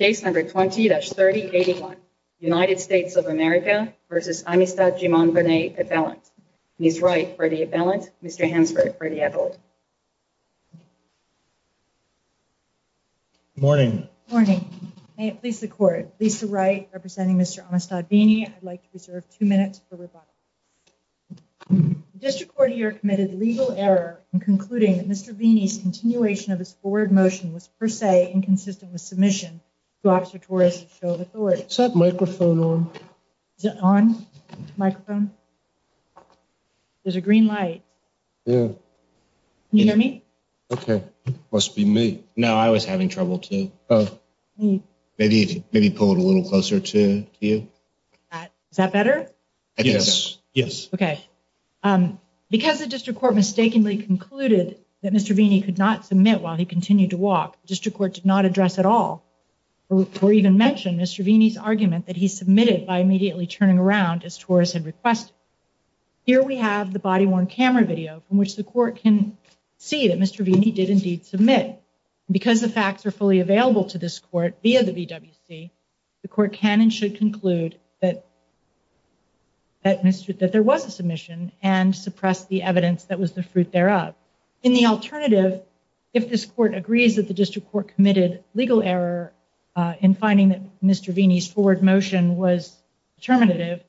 Case number 20-3081 United States of America v. Amistad Jumon Veney appellant, Ms. Wright for the appellant, Mr. Hemsworth for the appellant. Good morning. Good morning. May it please the Court, Lisa Wright representing Mr. Amistad Veney. I'd like to reserve two minutes for rebuttal. The District Court here committed legal error in concluding that Mr. Veney's continuation of his forward motion was per se inconsistent with submission. Is that microphone on? Is it on? Microphone? There's a green light. Yeah. Can you hear me? Okay. Must be me. No, I was having trouble too. Maybe pull it a little closer to you. Is that better? Yes. Yes. Okay. Because the District Court mistakenly concluded that Mr. Veney could not submit while he continued to walk, the District Court did not address at all or even mention Mr. Veney's argument that he submitted by immediately turning around as Torres had requested. Here we have the body-worn camera video from which the Court can see that Mr. Veney did indeed submit. Because the facts are fully available to this Court via the VWC, the Court can and should conclude that there was a submission and suppress the evidence that was the fruit thereof. In the alternative, if this Court agrees that the District Court committed legal error in finding that Mr. Veney's forward motion was determinative,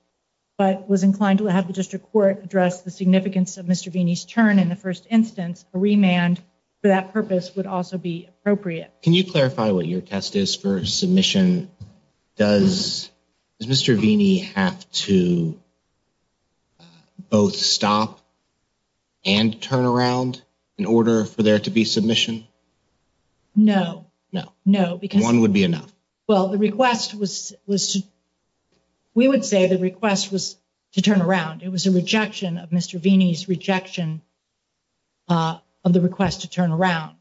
but was inclined to have the District Court address the significance of Mr. Veney's turn in the first instance, a remand for that purpose would also be appropriate. Can you clarify what your test is for submission? Does Mr. Veney have to both stop and turn around in order for there to be submission? No, no, no, because one would be enough. Well, the request was listed. We would say the request was to turn around. It was a rejection of Mr. Veney's rejection. Of the request to turn around.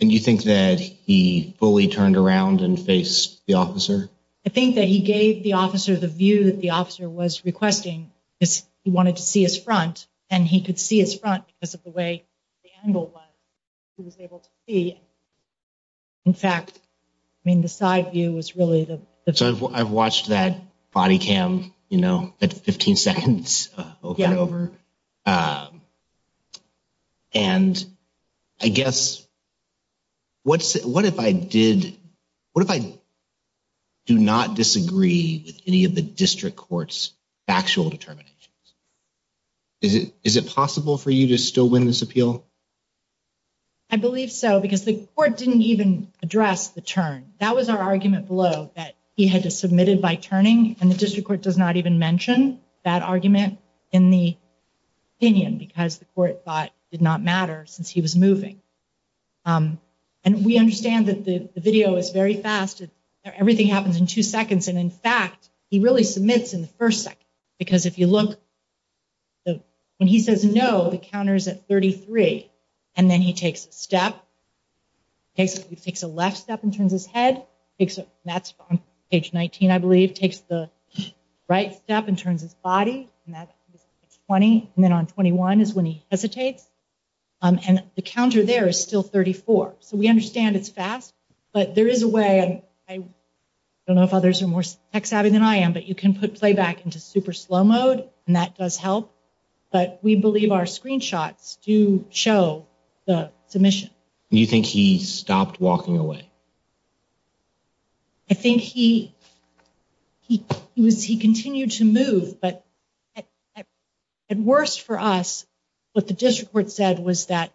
And you think that he fully turned around and faced the officer? I think that he gave the officer the view that the officer was requesting. He wanted to see his front and he could see his front because of the way the angle was he was able to see. In fact, I mean, the side view was really the. So I've watched that body cam, you know, at 15 seconds over and over. And I guess. What's it? What if I did? What if I do not disagree with any of the district court's actual determinations? Is it is it possible for you to still win this appeal? I believe so, because the court didn't even address the turn. That was our argument below that he had to submitted by turning. And the district court does not even mention that argument in the opinion because the court thought did not matter since he was moving. And we understand that the video is very fast. Everything happens in two seconds. And in fact, he really submits in the first second, because if you look. And he says, no, the counter is at thirty three. And then he takes a step. He takes a left step and turns his head. That's page 19. I believe takes the right step and turns his body. Twenty and then on twenty one is when he hesitates and the counter there is still thirty four. So we understand it's fast, but there is a way and I don't know if others are more tech savvy than I am, but you can put playback into super slow mode and that does help. But we believe our screenshots to show the submission. You think he stopped walking away? I think he he was he continued to move. But at worst for us, what the district court said was that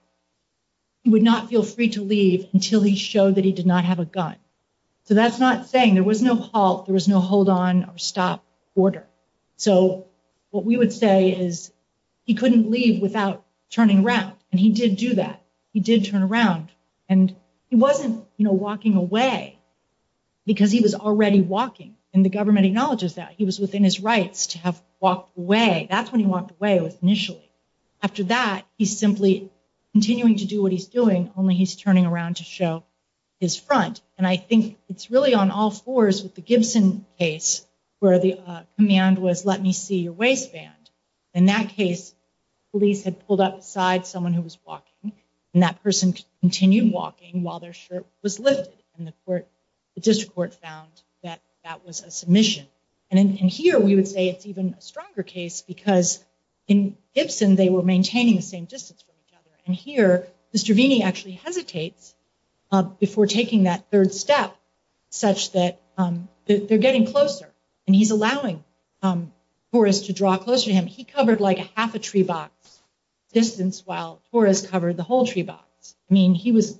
he would not feel free to leave until he showed that he did not have a gun. So that's not saying there was no halt. There was no hold on or stop order. So what we would say is he couldn't leave without turning around. And he did do that. He did turn around and he wasn't walking away because he was already walking. And the government acknowledges that he was within his rights to have walked away. That's when he walked away with initially. After that, he's simply continuing to do what he's doing. Only he's turning around to show his front. And I think it's really on all fours with the Gibson case where the command was, let me see your waistband. In that case, police had pulled up beside someone who was walking and that person continued walking while their shirt was lifted. And the court, the district court found that that was a submission. And here we would say it's even a stronger case because in Gibson, they were maintaining the same distance from each other. And here Mr. Vini actually hesitates before taking that third step such that they're getting closer and he's allowing for us to draw closer to him. He covered like a half a tree box distance while Torres covered the whole tree box. I mean, he was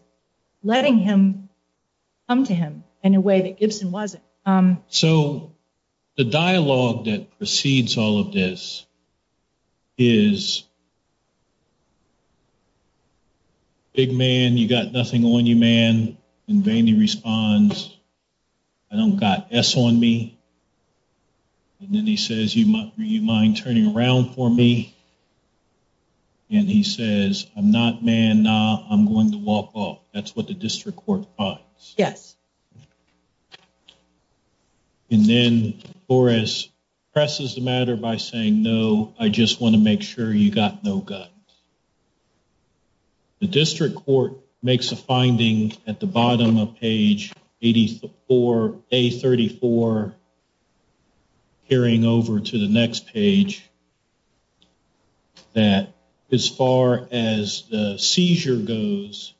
letting him come to him in a way that Gibson wasn't. So the dialogue that precedes all of this is. Big man, you got nothing on you, man. In vain, he responds, I don't got S on me. And then he says, you might you mind turning around for me? And he says, I'm not man, I'm going to walk off. That's what the district court. Yes. And then for us, presses the matter by saying, no, I just want to make sure you got no gun. The district court makes a finding at the bottom of page 80 or a 34. Hearing over to the next page that as far as the seizure goes.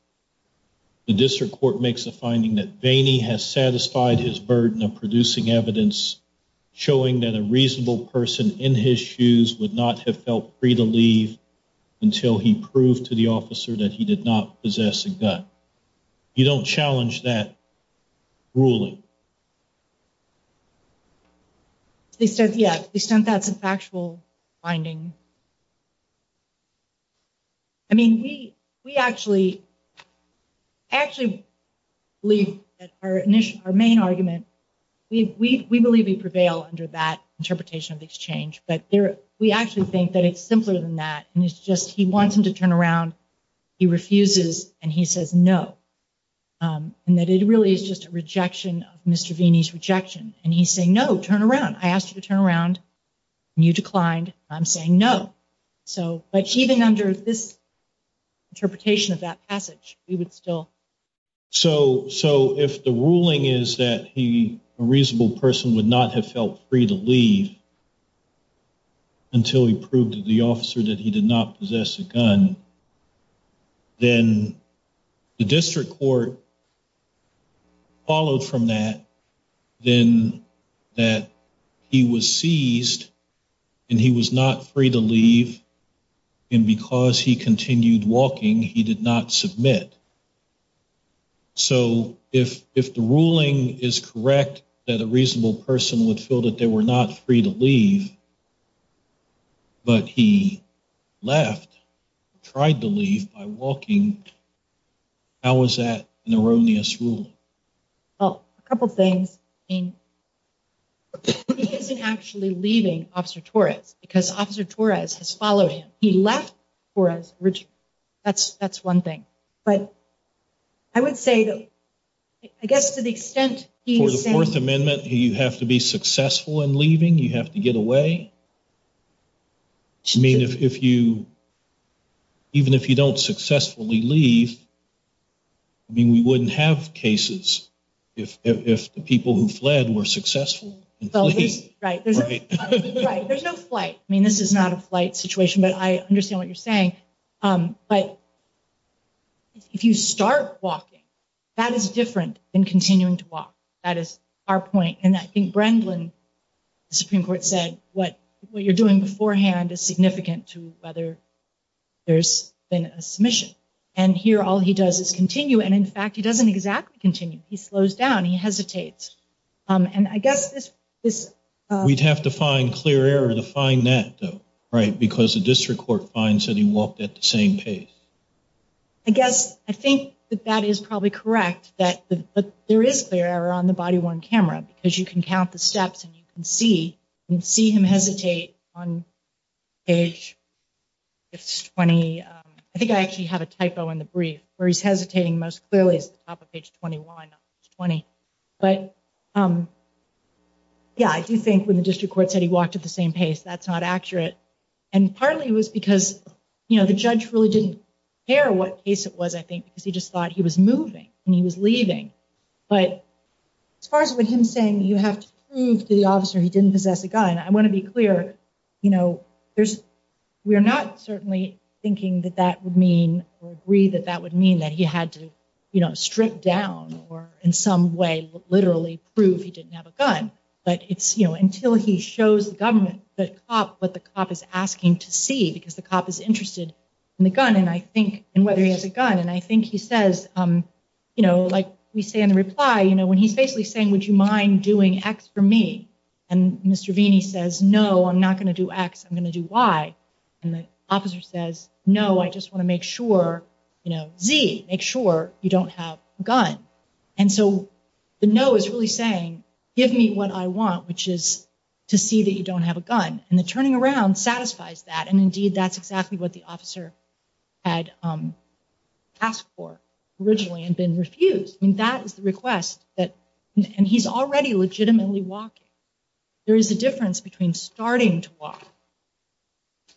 The district court makes a finding that Vaney has satisfied his burden of producing evidence. Showing that a reasonable person in his shoes would not have felt free to leave. Until he proved to the officer that he did not possess a gun. You don't challenge that ruling. They said, yeah, that's a factual finding. I mean, we, we actually. Actually, we are our main argument. We believe we prevail under that interpretation of exchange. But we actually think that it's simpler than that. And it's just he wants him to turn around. He refuses and he says no. And that it really is just a rejection of Mr. Vaney's rejection. And he's saying, no, turn around. I asked you to turn around. You declined. I'm saying no. So, but even under this. Interpretation of that passage, we would still. So, so if the ruling is that he a reasonable person would not have felt free to leave. Until he proved to the officer that he did not possess a gun. Then the district court. Followed from that. Then that he was seized. And he was not free to leave. And because he continued walking, he did not submit. So, if, if the ruling is correct, that a reasonable person would feel that they were not free to leave. But he left. Tried to leave by walking. How was that an erroneous rule? Oh, a couple of things. He isn't actually leaving officer Torres because officer Torres has followed him. He left for us. That's that's 1 thing, but. I would say that. I guess to the extent for the 4th amendment, you have to be successful in leaving. You have to get away. I mean, if you. Even if you don't successfully leave. I mean, we wouldn't have cases. If if the people who fled were successful, right? Right. There's no flight. I mean, this is not a flight situation, but I understand what you're saying. But. If you start walking. That is different than continuing to walk. That is our point. And I think Brendan Supreme Court said what what you're doing beforehand is significant to whether. There's been a submission and here all he does is continue. And in fact, he doesn't exactly continue. He slows down. He hesitates. And I guess this is we'd have to find clear error to find that. Right. Because the district court finds that he walked at the same pace. I guess I think that that is probably correct that there is there on the body 1 camera because you can count the steps and you can see and see him hesitate on. Age. It's 20, I think I actually have a typo in the brief where he's hesitating most clearly at the top of page 2120. But, yeah, I do think when the district court said he walked at the same pace, that's not accurate. And partly it was because, you know, the judge really didn't care what case it was, I think, because he just thought he was moving and he was leaving. But as far as what him saying, you have to prove to the officer he didn't possess a gun. I want to be clear. You know, there's we are not certainly thinking that that would mean or agree that that would mean that he had to strip down or in some way, literally prove he didn't have a gun. But it's, you know, until he shows the government that what the cop is asking to see, because the cop is interested in the gun. And I think and whether he has a gun and I think he says, you know, like we say in the reply, you know, when he's basically saying, would you mind doing X for me? And Mr. Vini says, no, I'm not going to do X. I'm going to do Y. And the officer says, no, I just want to make sure, you know, Z, make sure you don't have a gun. And so the no is really saying, give me what I want, which is to see that you don't have a gun. And the turning around satisfies that. And indeed, that's exactly what the officer had asked for originally and been refused. I mean, that is the request that and he's already legitimately walking. There is a difference between starting to walk.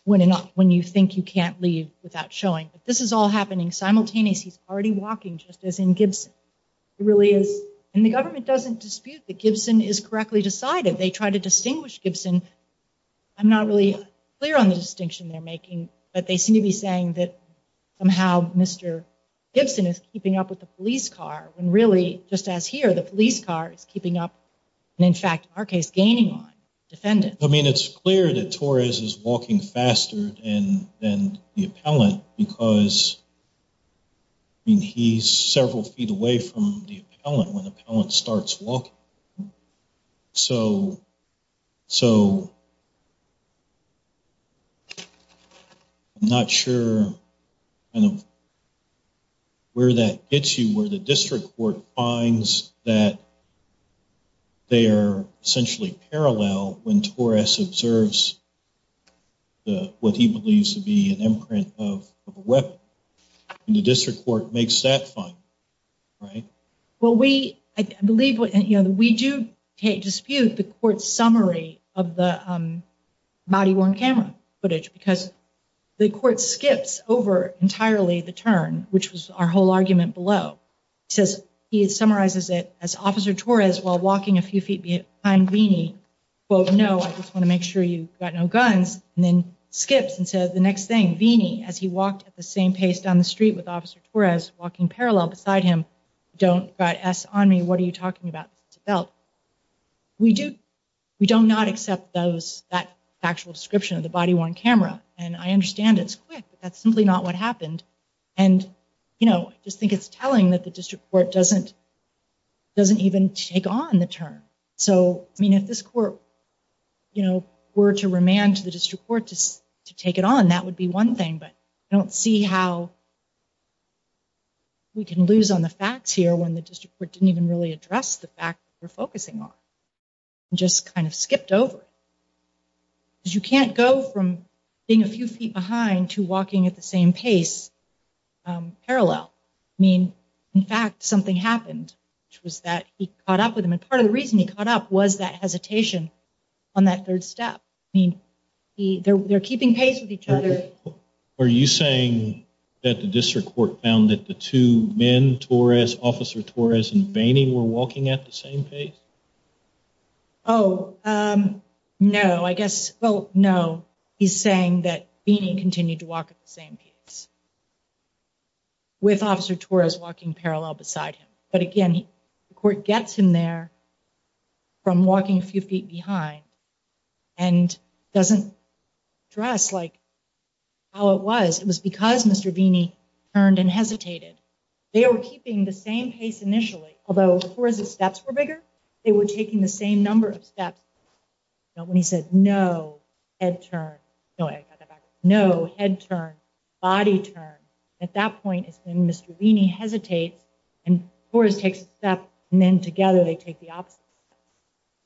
When and not when you think you can't leave without showing that this is all happening simultaneous, he's already walking just as in Gibson. It really is. And the government doesn't dispute that Gibson is correctly decided. They try to distinguish Gibson. I'm not really clear on the distinction they're making, but they seem to be saying that somehow Mr. Gibson is keeping up with the police car when really just as here, the police car is keeping up. And in fact, our case gaining on defendants, I mean, it's clear that Torres is walking faster and then the appellant because. He's several feet away from the appellant when the appellant starts walking. So. So. Not sure. Where that gets you where the district court finds that. They are essentially parallel when Torres observes. What he believes to be an imprint of a weapon in the district court makes that fine. Right. Well, we believe we do dispute the court's summary of the body worn camera footage because the court skips over entirely the turn, which was our whole argument below. Says he summarizes it as officer Torres while walking a few feet behind me. Well, no, I just want to make sure you got no guns and then skips and says the next thing, Vini, as he walked at the same pace down the street with officer Torres walking parallel beside him. Don't ask on me. What are you talking about? We do we don't not accept those that actual description of the body worn camera, and I understand it's quick, but that's simply not what happened. And, you know, I just think it's telling that the district court doesn't. Doesn't even take on the term. So, I mean, if this court, you know, were to remand to the district court to take it on, that would be one thing, but I don't see how. We can lose on the facts here when the district court didn't even really address the fact we're focusing on just kind of skipped over. You can't go from being a few feet behind to walking at the same pace. Parallel mean, in fact, something happened, which was that he caught up with him. And part of the reason he caught up was that hesitation on that third step. I mean, they're keeping pace with each other. Are you saying that the district court found that the two men Torres, officer Torres and Bainey were walking at the same pace? Oh, no, I guess. Well, no, he's saying that being continued to walk at the same pace. With officer Torres walking parallel beside him, but again, the court gets in there. From walking a few feet behind and doesn't dress like. How it was, it was because Mr. Bainey turned and hesitated. They were keeping the same pace initially, although the steps were bigger. They were taking the same number of steps when he said, no, head turn. No, I got that back. No, head turn. Body turn. At that point, it's been Mr. Bainey hesitates and course takes that. And then together they take the opposite.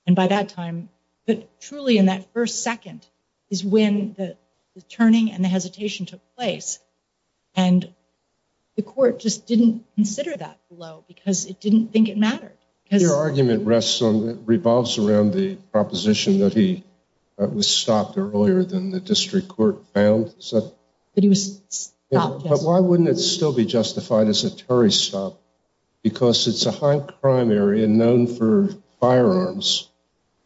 And by that time, but truly in that first second is when the turning and the hesitation took place. And the court just didn't consider that low because it didn't think it mattered. Your argument rests on revolves around the proposition that he was stopped earlier than the district court found that he was. But why wouldn't it still be justified as a Terry stop? Because it's a high crime area known for firearms.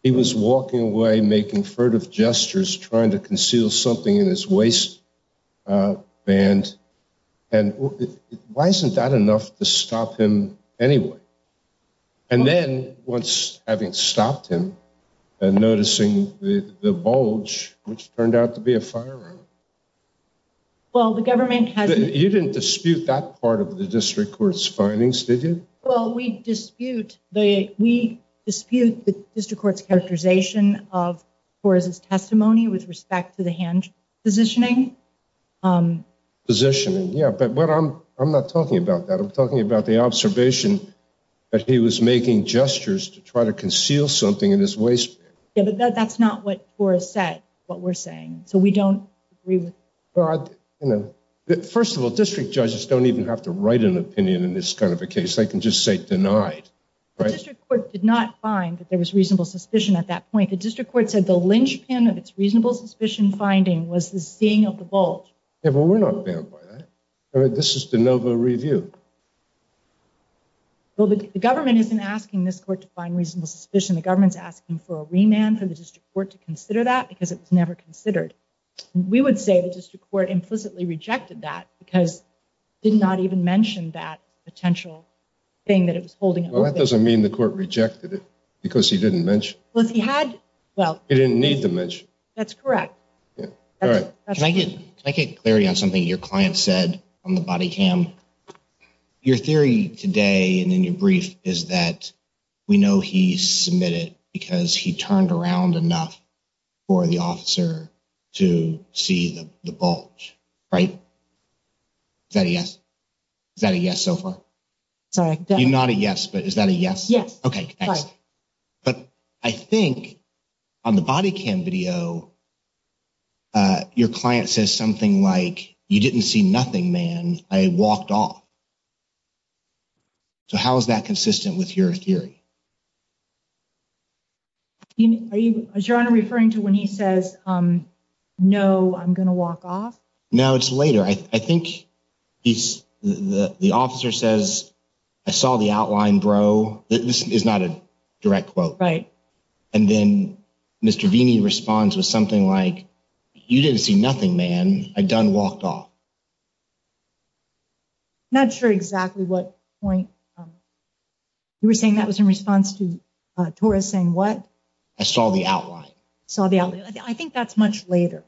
He was walking away, making furtive gestures, trying to conceal something in his waist band. And why isn't that enough to stop him anyway? And then once having stopped him and noticing the bulge, which turned out to be a firearm. Well, the government has you didn't dispute that part of the district court's findings, did you? Well, we dispute the we dispute the district court's characterization of for his testimony with respect to the hand positioning position. And yeah, but what I'm I'm not talking about that. I'm talking about the observation that he was making gestures to try to conceal something in his waist. Yeah, but that's not what was said, what we're saying. So we don't agree with that. First of all, district judges don't even have to write an opinion in this kind of a case. They can just say denied. The district court did not find that there was reasonable suspicion at that point. The district court said the linchpin of its reasonable suspicion finding was the seeing of the bulge. Yeah, well, we're not there. This is the Nova review. Well, the government isn't asking this court to find reasonable suspicion. The government's asking for a remand for the district court to consider that because it was never considered. We would say the district court implicitly rejected that because did not even mention that potential thing that it was holding. Well, that doesn't mean the court rejected it because he didn't mention what he had. Well, you didn't need to mention. That's correct. All right. Can I get I can't carry on something your client said on the body cam. Your theory today and in your brief is that we know he submitted because he turned around enough for the officer to see the bulge. Right. Yes. Yes. So far. Not a yes. But is that a yes? Yes. Okay. But I think on the body cam video. Your client says something like, you didn't see nothing, man. I walked off. So how is that consistent with your theory? Are you referring to when he says, no, I'm going to walk off. No, it's later. I think the officer says, I saw the outline, bro. This is not a direct quote. Right. And then Mr. Vini responds with something like, you didn't see nothing, man. I done walked off. Not sure exactly what point you were saying that was in response to Taurus saying what I saw the outline. I think that's much later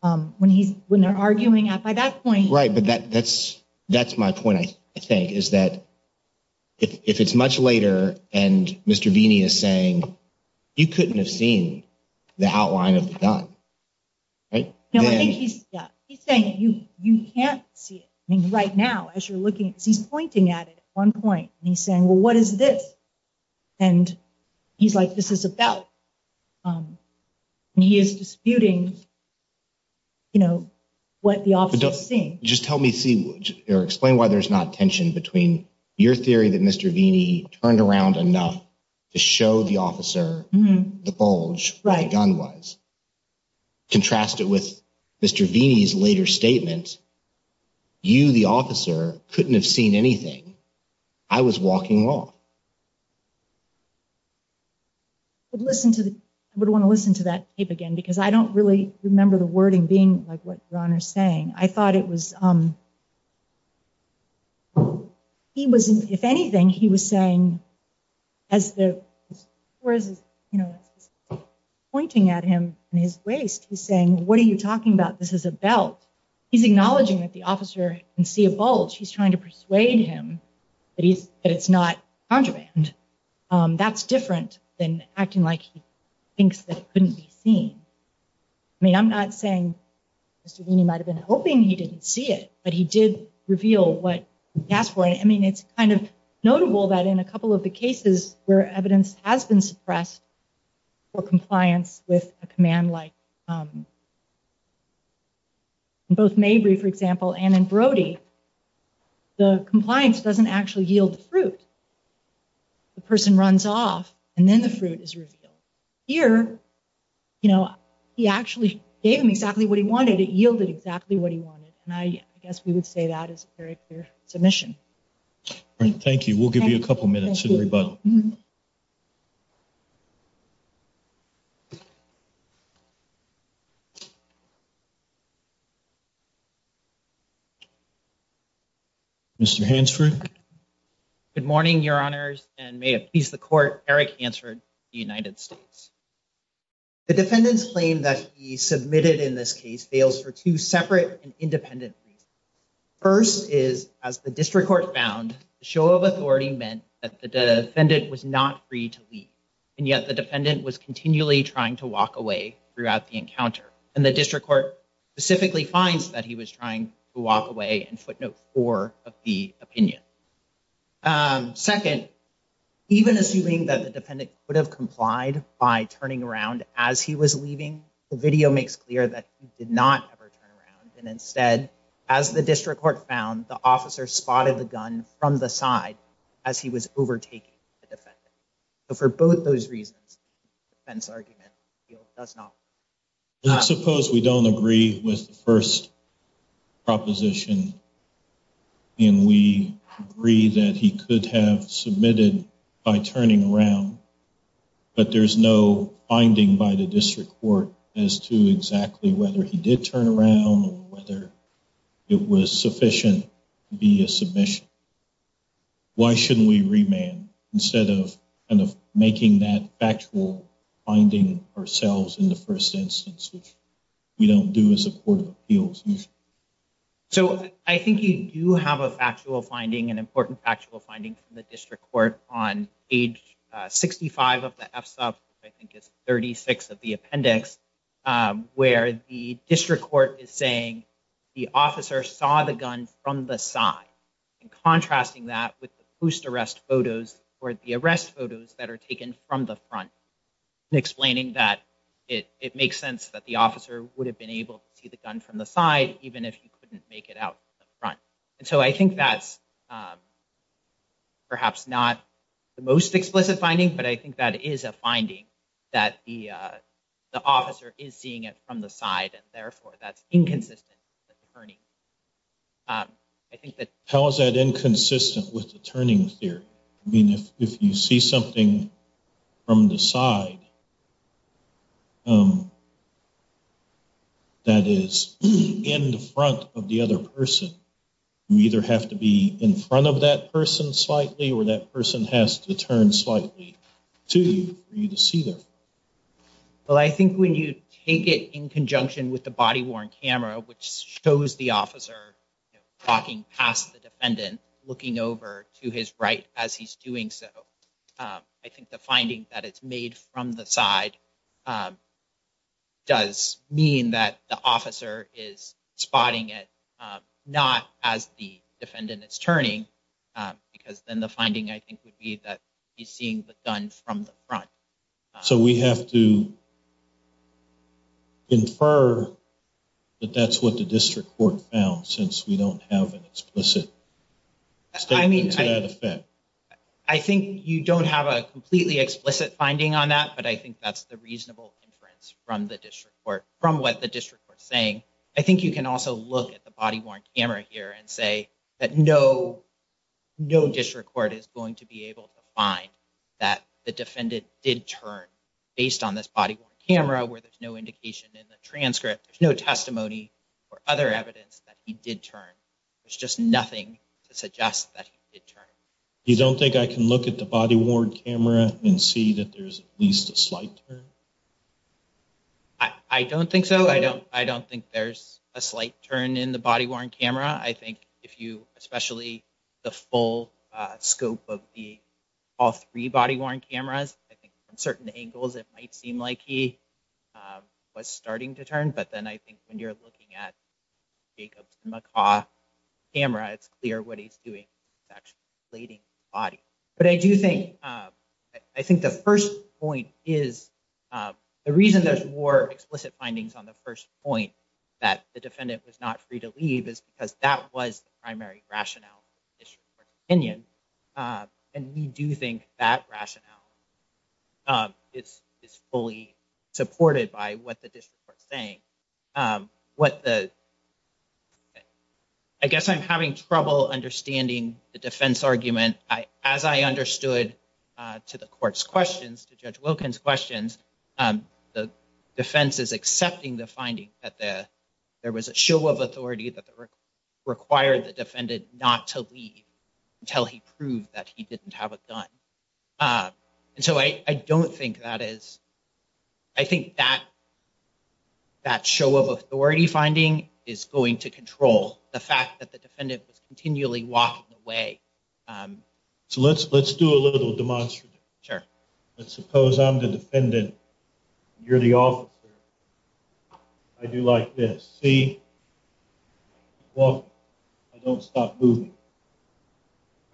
when he's when they're arguing at by that point. Right. But that that's that's my point. I think is that if it's much later and Mr. Vini is saying, you couldn't have seen the outline of the gun. Right. He's saying you, you can't see it right now as you're looking. He's pointing at one point and he's saying, well, what is this? And he's like, this is about he is disputing. You know what the office is saying, just tell me, see, or explain why there's not tension between your theory that Mr. Vini turned around enough to show the officer the bulge. Right. Gun was contrasted with Mr. V's later statement. You, the officer couldn't have seen anything. I was walking off. Listen to the I would want to listen to that tape again, because I don't really remember the wording being like what you're saying. I thought it was. He was, if anything, he was saying as the words, you know, pointing at him in his waist, he's saying, what are you talking about? This is a belt. He's acknowledging that the officer and see a bulge. He's trying to persuade him that he's that it's not contraband. That's different than acting like he thinks that couldn't be seen. I mean, I'm not saying Mr. Vini might have been hoping he didn't see it, but he did reveal what he asked for. I mean, it's kind of notable that in a couple of the cases where evidence has been suppressed or compliance with a command like. Both may be, for example, and in Brody, the compliance doesn't actually yield fruit. The person runs off and then the fruit is revealed here. You know, he actually gave him exactly what he wanted. It yielded exactly what he wanted. And I guess we would say that is very clear submission. Thank you. We'll give you a couple of minutes. But. Mr. Hansford. Good morning, Your Honors, and may it please the court. Eric answered the United States. The defendant's claim that he submitted in this case fails for two separate and independent. First is, as the district court found a show of authority meant that the defendant was not free to leave. And yet the defendant was continually trying to walk away throughout the encounter. And the district court specifically finds that he was trying to walk away and footnote for the opinion. Second, even assuming that the defendant would have complied by turning around as he was leaving. The video makes clear that he did not ever turn around. And instead, as the district court found, the officer spotted the gun from the side as he was overtaking the defendant. But for both those reasons, the argument does not. I suppose we don't agree with the first proposition. And we agree that he could have submitted by turning around. But there's no finding by the district court as to exactly whether he did turn around or whether it was sufficient to be a submission. Why shouldn't we remand instead of making that factual finding ourselves in the first instance, which we don't do as a court of appeals? So I think you do have a factual finding, an important factual finding from the district court on age 65 of the FSOB. I think it's 36 of the appendix where the district court is saying the officer saw the gun from the side. And contrasting that with the post arrest photos or the arrest photos that are taken from the front. Explaining that it makes sense that the officer would have been able to see the gun from the side, even if he couldn't make it out the front. And so I think that's perhaps not the most explicit finding. But I think that is a finding that the officer is seeing it from the side. And therefore, that's inconsistent. How is that inconsistent with the turning theory? I mean, if you see something from the side. That is in the front of the other person, you either have to be in front of that person slightly or that person has to turn slightly to you to see them. Well, I think when you take it in conjunction with the body worn camera, which shows the officer walking past the defendant looking over to his right as he's doing so. I think the finding that it's made from the side does mean that the officer is spotting it, not as the defendant is turning. Because then the finding, I think, would be that he's seeing the gun from the front. So we have to infer that that's what the district court found, since we don't have an explicit statement to that effect. I think you don't have a completely explicit finding on that, but I think that's the reasonable inference from what the district court is saying. I think you can also look at the body worn camera here and say that no district court is going to be able to find that the defendant did turn based on this body camera where there's no indication in the transcript. There's no testimony or other evidence that he did turn. There's just nothing to suggest that he did turn. You don't think I can look at the body worn camera and see that there's at least a slight turn? I don't think so. I don't I don't think there's a slight turn in the body worn camera. I think if you especially the full scope of the all three body worn cameras, I think from certain angles, it might seem like he was starting to turn. But then I think when you're looking at Jacobs Macaw camera, it's clear what he's doing. But I do think I think the first point is the reason there's more explicit findings on the first point that the defendant was not free to leave is because that was the primary rationale for opinion. And we do think that rationale. It's fully supported by what the district court saying what the I guess I'm having trouble understanding the defense argument. And as I understood to the court's questions to judge Wilkins questions, the defense is accepting the finding that there was a show of authority that required the defendant not to leave until he proved that he didn't have a gun. And so I don't think that is. I think that that show of authority finding is going to control the fact that the defendant was continually walking away. So let's let's do a little demonstrative. Sure. Let's suppose I'm the defendant. You're the officer. I do like this. See? Well, I don't stop moving.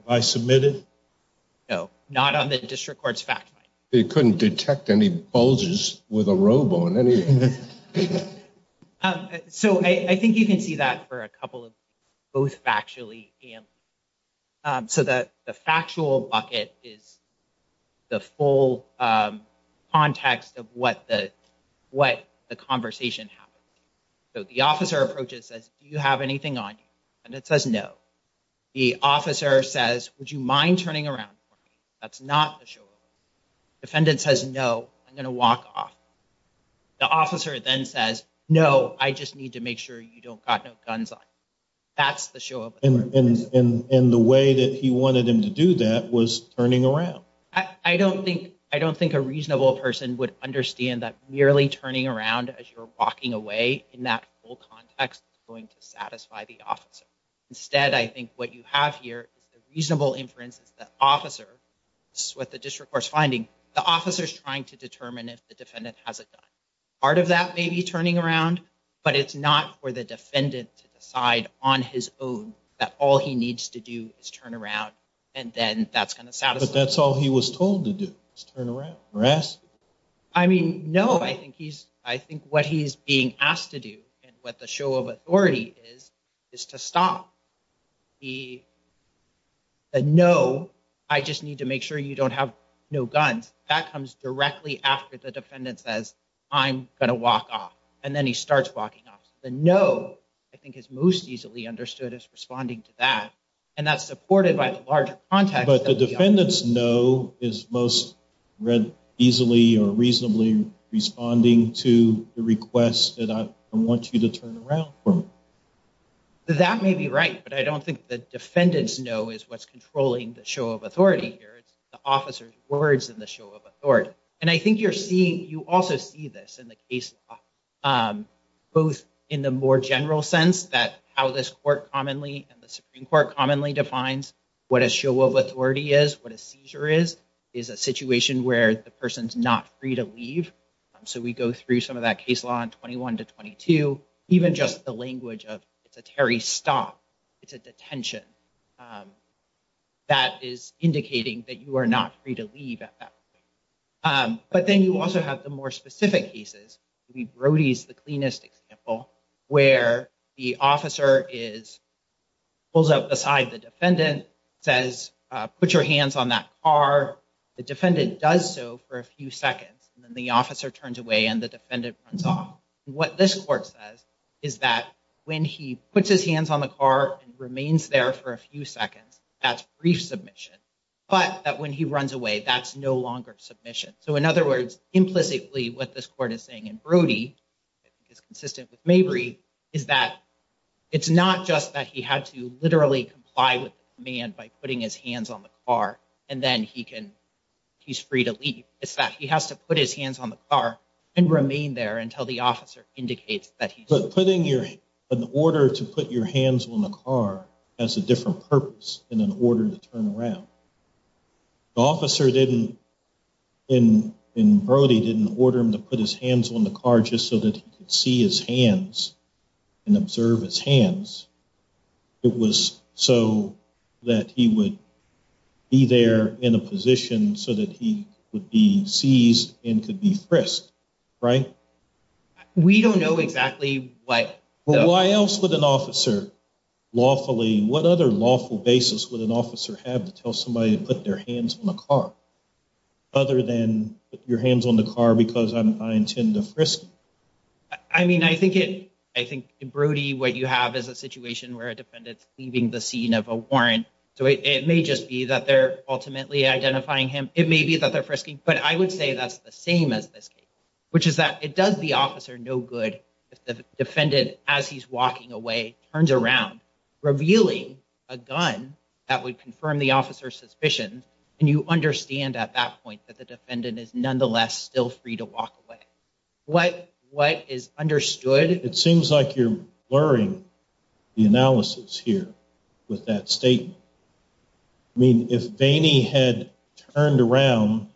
I submitted. No, not on the district court's fact. They couldn't detect any bulges with a robo in any. So I think you can see that for a couple of both actually. So that the factual bucket is the full context of what the what the conversation happened. So the officer approaches as you have anything on. And it says no. The officer says, would you mind turning around? That's not the show. Defendant says, no, I'm going to walk off. The officer then says, no, I just need to make sure you don't got no guns on. That's the show. And the way that he wanted him to do that was turning around. I don't think I don't think a reasonable person would understand that merely turning around as you're walking away in that whole context going to satisfy the officer. Instead, I think what you have here is a reasonable inference. The officer with the district court's finding the officers trying to determine if the defendant hasn't done part of that, maybe turning around. But it's not for the defendant to decide on his own that all he needs to do is turn around. And then that's kind of sad. But that's all he was told to do is turn around. I mean, no, I think he's I think what he's being asked to do and what the show of authority is, is to stop. He said, no, I just need to make sure you don't have no guns. That comes directly after the defendant says, I'm going to walk off. And then he starts walking off. The no, I think, is most easily understood as responding to that. And that's supported by the larger context. But the defendant's no is most easily or reasonably responding to the request that I want you to turn around. That may be right, but I don't think the defendant's no is what's controlling the show of authority here. It's the officer's words in the show of authority. And I think you're seeing you also see this in the case, both in the more general sense that how this court commonly and the Supreme Court commonly defines what a show of authority is, what a seizure is, is a situation where the person's not free to leave. So we go through some of that case law in 21 to 22, even just the language of it's a Terry stop. It's a detention. That is indicating that you are not free to leave. But then you also have the more specific cases. Brody's the cleanest example where the officer is pulls up beside the defendant, says, put your hands on that car. The defendant does so for a few seconds. And then the officer turns away and the defendant runs off. What this court says is that when he puts his hands on the car and remains there for a few seconds, that's brief submission. But that when he runs away, that's no longer submission. So, in other words, implicitly, what this court is saying in Brody is consistent with Mabry is that it's not just that he had to literally comply with man by putting his hands on the car. And then he can he's free to leave. It's that he has to put his hands on the car and remain there until the officer indicates that he's putting your order to put your hands on the car as a different purpose in an order to turn around. Officer didn't in in Brody didn't order him to put his hands on the car just so that he could see his hands and observe his hands. It was so that he would be there in a position so that he would be seized and could be frisked. We don't know exactly why. Why else would an officer lawfully? What other lawful basis would an officer have to tell somebody to put their hands on the car other than your hands on the car? Because I intend to frisk. I mean, I think it I think Brody, what you have is a situation where a defendant leaving the scene of a warrant. So it may just be that they're ultimately identifying him. It may be that they're frisking, but I would say that's the same as this case, which is that it does the officer no good. If the defendant, as he's walking away, turns around, revealing a gun that would confirm the officer's suspicion. And you understand at that point that the defendant is nonetheless still free to walk away. What what is understood? It seems like you're blurring the analysis here with that statement. I mean, if they had turned around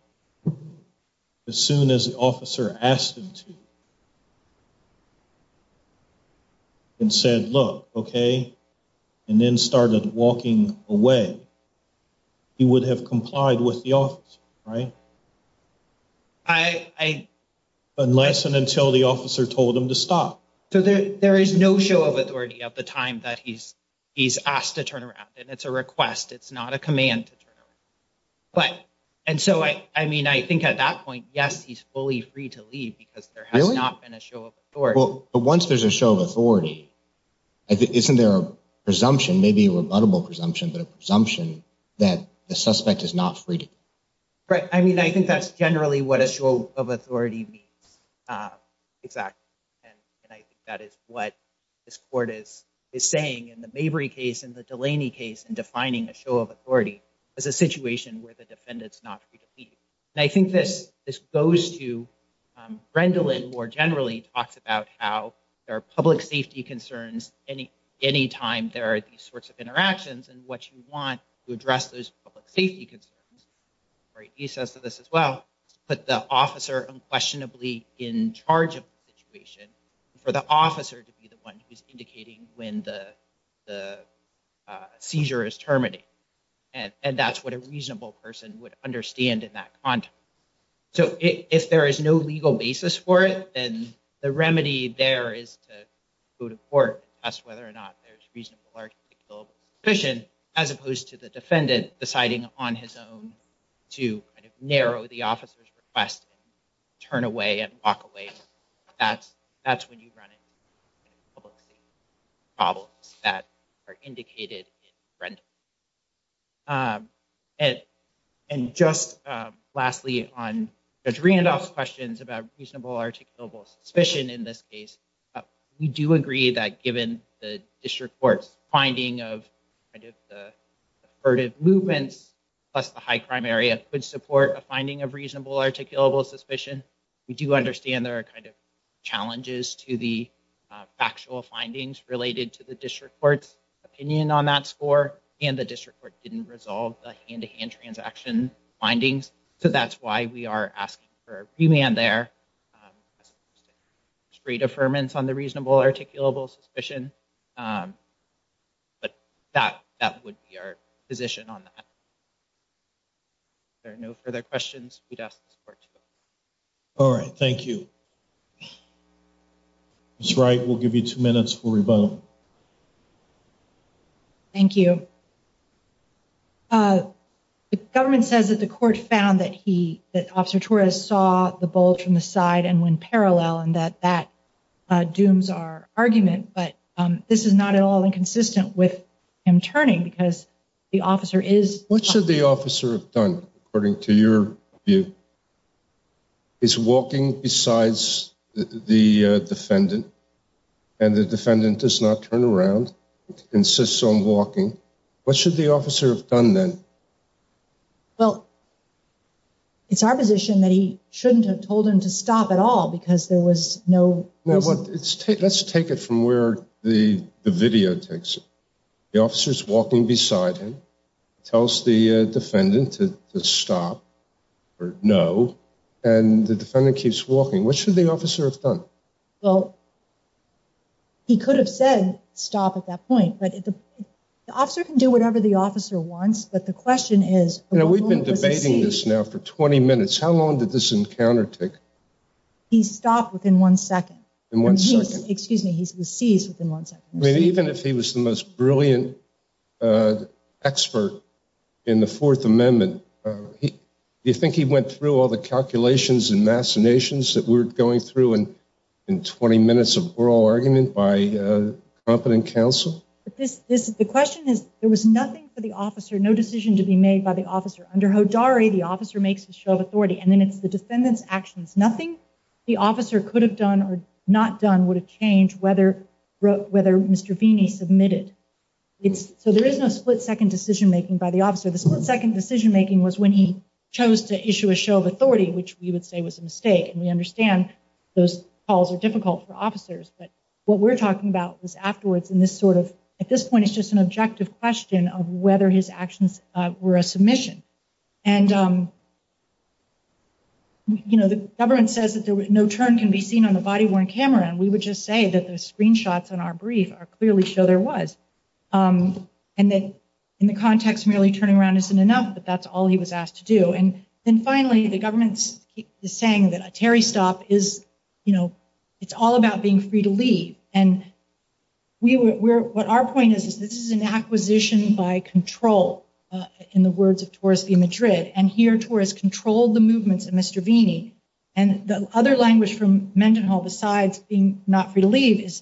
as soon as the officer asked him to. And said, look, OK, and then started walking away. He would have complied with the office, right? Unless and until the officer told him to stop. So there is no show of authority at the time that he's he's asked to turn around and it's a request. It's not a command to turn around. But and so, I mean, I think at that point, yes, he's fully free to leave because there has not been a show of force. But once there's a show of authority, isn't there a presumption, maybe a rebuttable presumption, that a presumption that the suspect is not free? Right. I mean, I think that's generally what a show of authority means. Exactly. And I think that is what this court is saying in the Mabry case, in the Delaney case, in defining a show of authority as a situation where the defendant's not free to leave. And I think this goes to Rendlin more generally talks about how there are public safety concerns. Anytime there are these sorts of interactions and what you want to address those public safety concerns. He says to this as well, put the officer unquestionably in charge of the situation for the officer to be the one who is indicating when the seizure is terminated. And that's what a reasonable person would understand in that context. So if there is no legal basis for it, then the remedy there is to go to court, ask whether or not there's reasonable suspicion, as opposed to the defendant deciding on his own to narrow the officer's request, turn away and walk away. That's when you run into public safety problems that are indicated in Rendlin. And just lastly, on Randolph's questions about reasonable articulable suspicion in this case, we do agree that given the district court's finding of the movements plus the high crime area, which support a finding of reasonable articulable suspicion, we do understand there are kind of challenges to the factual findings related to the district court's opinion on that score. And the district court didn't resolve the hand-to-hand transaction findings. So that's why we are asking for a remand there. Straight affirmance on the reasonable articulable suspicion. But that that would be our position on that. There are no further questions. All right. Thank you. That's right. We'll give you two minutes for rebuttal. Thank you. The government says that the court found that he that Officer Torres saw the bulge from the side and went parallel and that that dooms our argument. But this is not at all inconsistent with him turning because the officer is. What should the officer have done according to your view? Is walking besides the defendant and the defendant does not turn around and insists on walking. What should the officer have done then? Well. It's our position that he shouldn't have told him to stop at all because there was no. Let's take it from where the video takes. The officers walking beside him tells the defendant to stop or no. And the defendant keeps walking. What should the officer have done? Well. He could have said stop at that point. But the officer can do whatever the officer wants. But the question is, you know, we've been debating this now for 20 minutes. How long did this encounter take? He stopped within one second. In one second. Excuse me. Even if he was the most brilliant expert in the Fourth Amendment. Do you think he went through all the calculations and machinations that we're going through in 20 minutes of oral argument by competent counsel? The question is, there was nothing for the officer. No decision to be made by the officer. Under Hodari, the officer makes a show of authority. And then it's the defendant's actions. Nothing the officer could have done or not done would have changed whether Mr. Vini submitted. So there is no split-second decision-making by the officer. The split-second decision-making was when he chose to issue a show of authority, which we would say was a mistake. And we understand those calls are difficult for officers. But what we're talking about is afterwards in this sort of, at this point, it's just an objective question of whether his actions were a submission. And, you know, the government says that no turn can be seen on a body-worn camera. And we would just say that the screenshots on our brief clearly show there was. And that in the context merely turning around isn't enough, but that's all he was asked to do. And then, finally, the government is saying that a Terry stop is, you know, it's all about being free to leave. And what our point is, is this is an acquisition by control, in the words of Torres v. Madrid. And here Torres controlled the movements of Mr. Vini. And the other language from Mendenhall besides being not free to leave is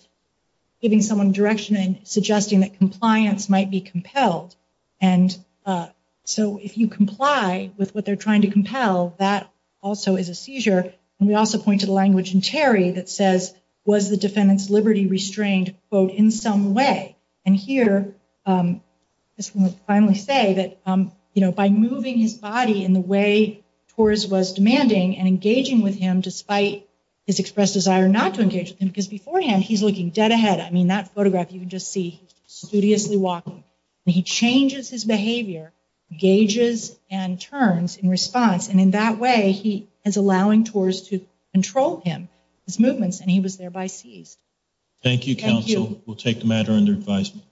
giving someone direction and suggesting that compliance might be compelled. And so if you comply with what they're trying to compel, that also is a seizure. And we also point to the language in Terry that says, was the defendant's liberty restrained, quote, in some way. And here, this one would finally say that, you know, by moving his body in the way Torres was demanding and engaging with him, despite his expressed desire not to engage with him, because beforehand he's looking dead ahead. I mean, that photograph you can just see, studiously walking. And he changes his behavior, gauges and turns in response. And in that way, he is allowing Torres to control him, his movements, and he was thereby seized. Thank you, counsel. We'll take the matter under advisement.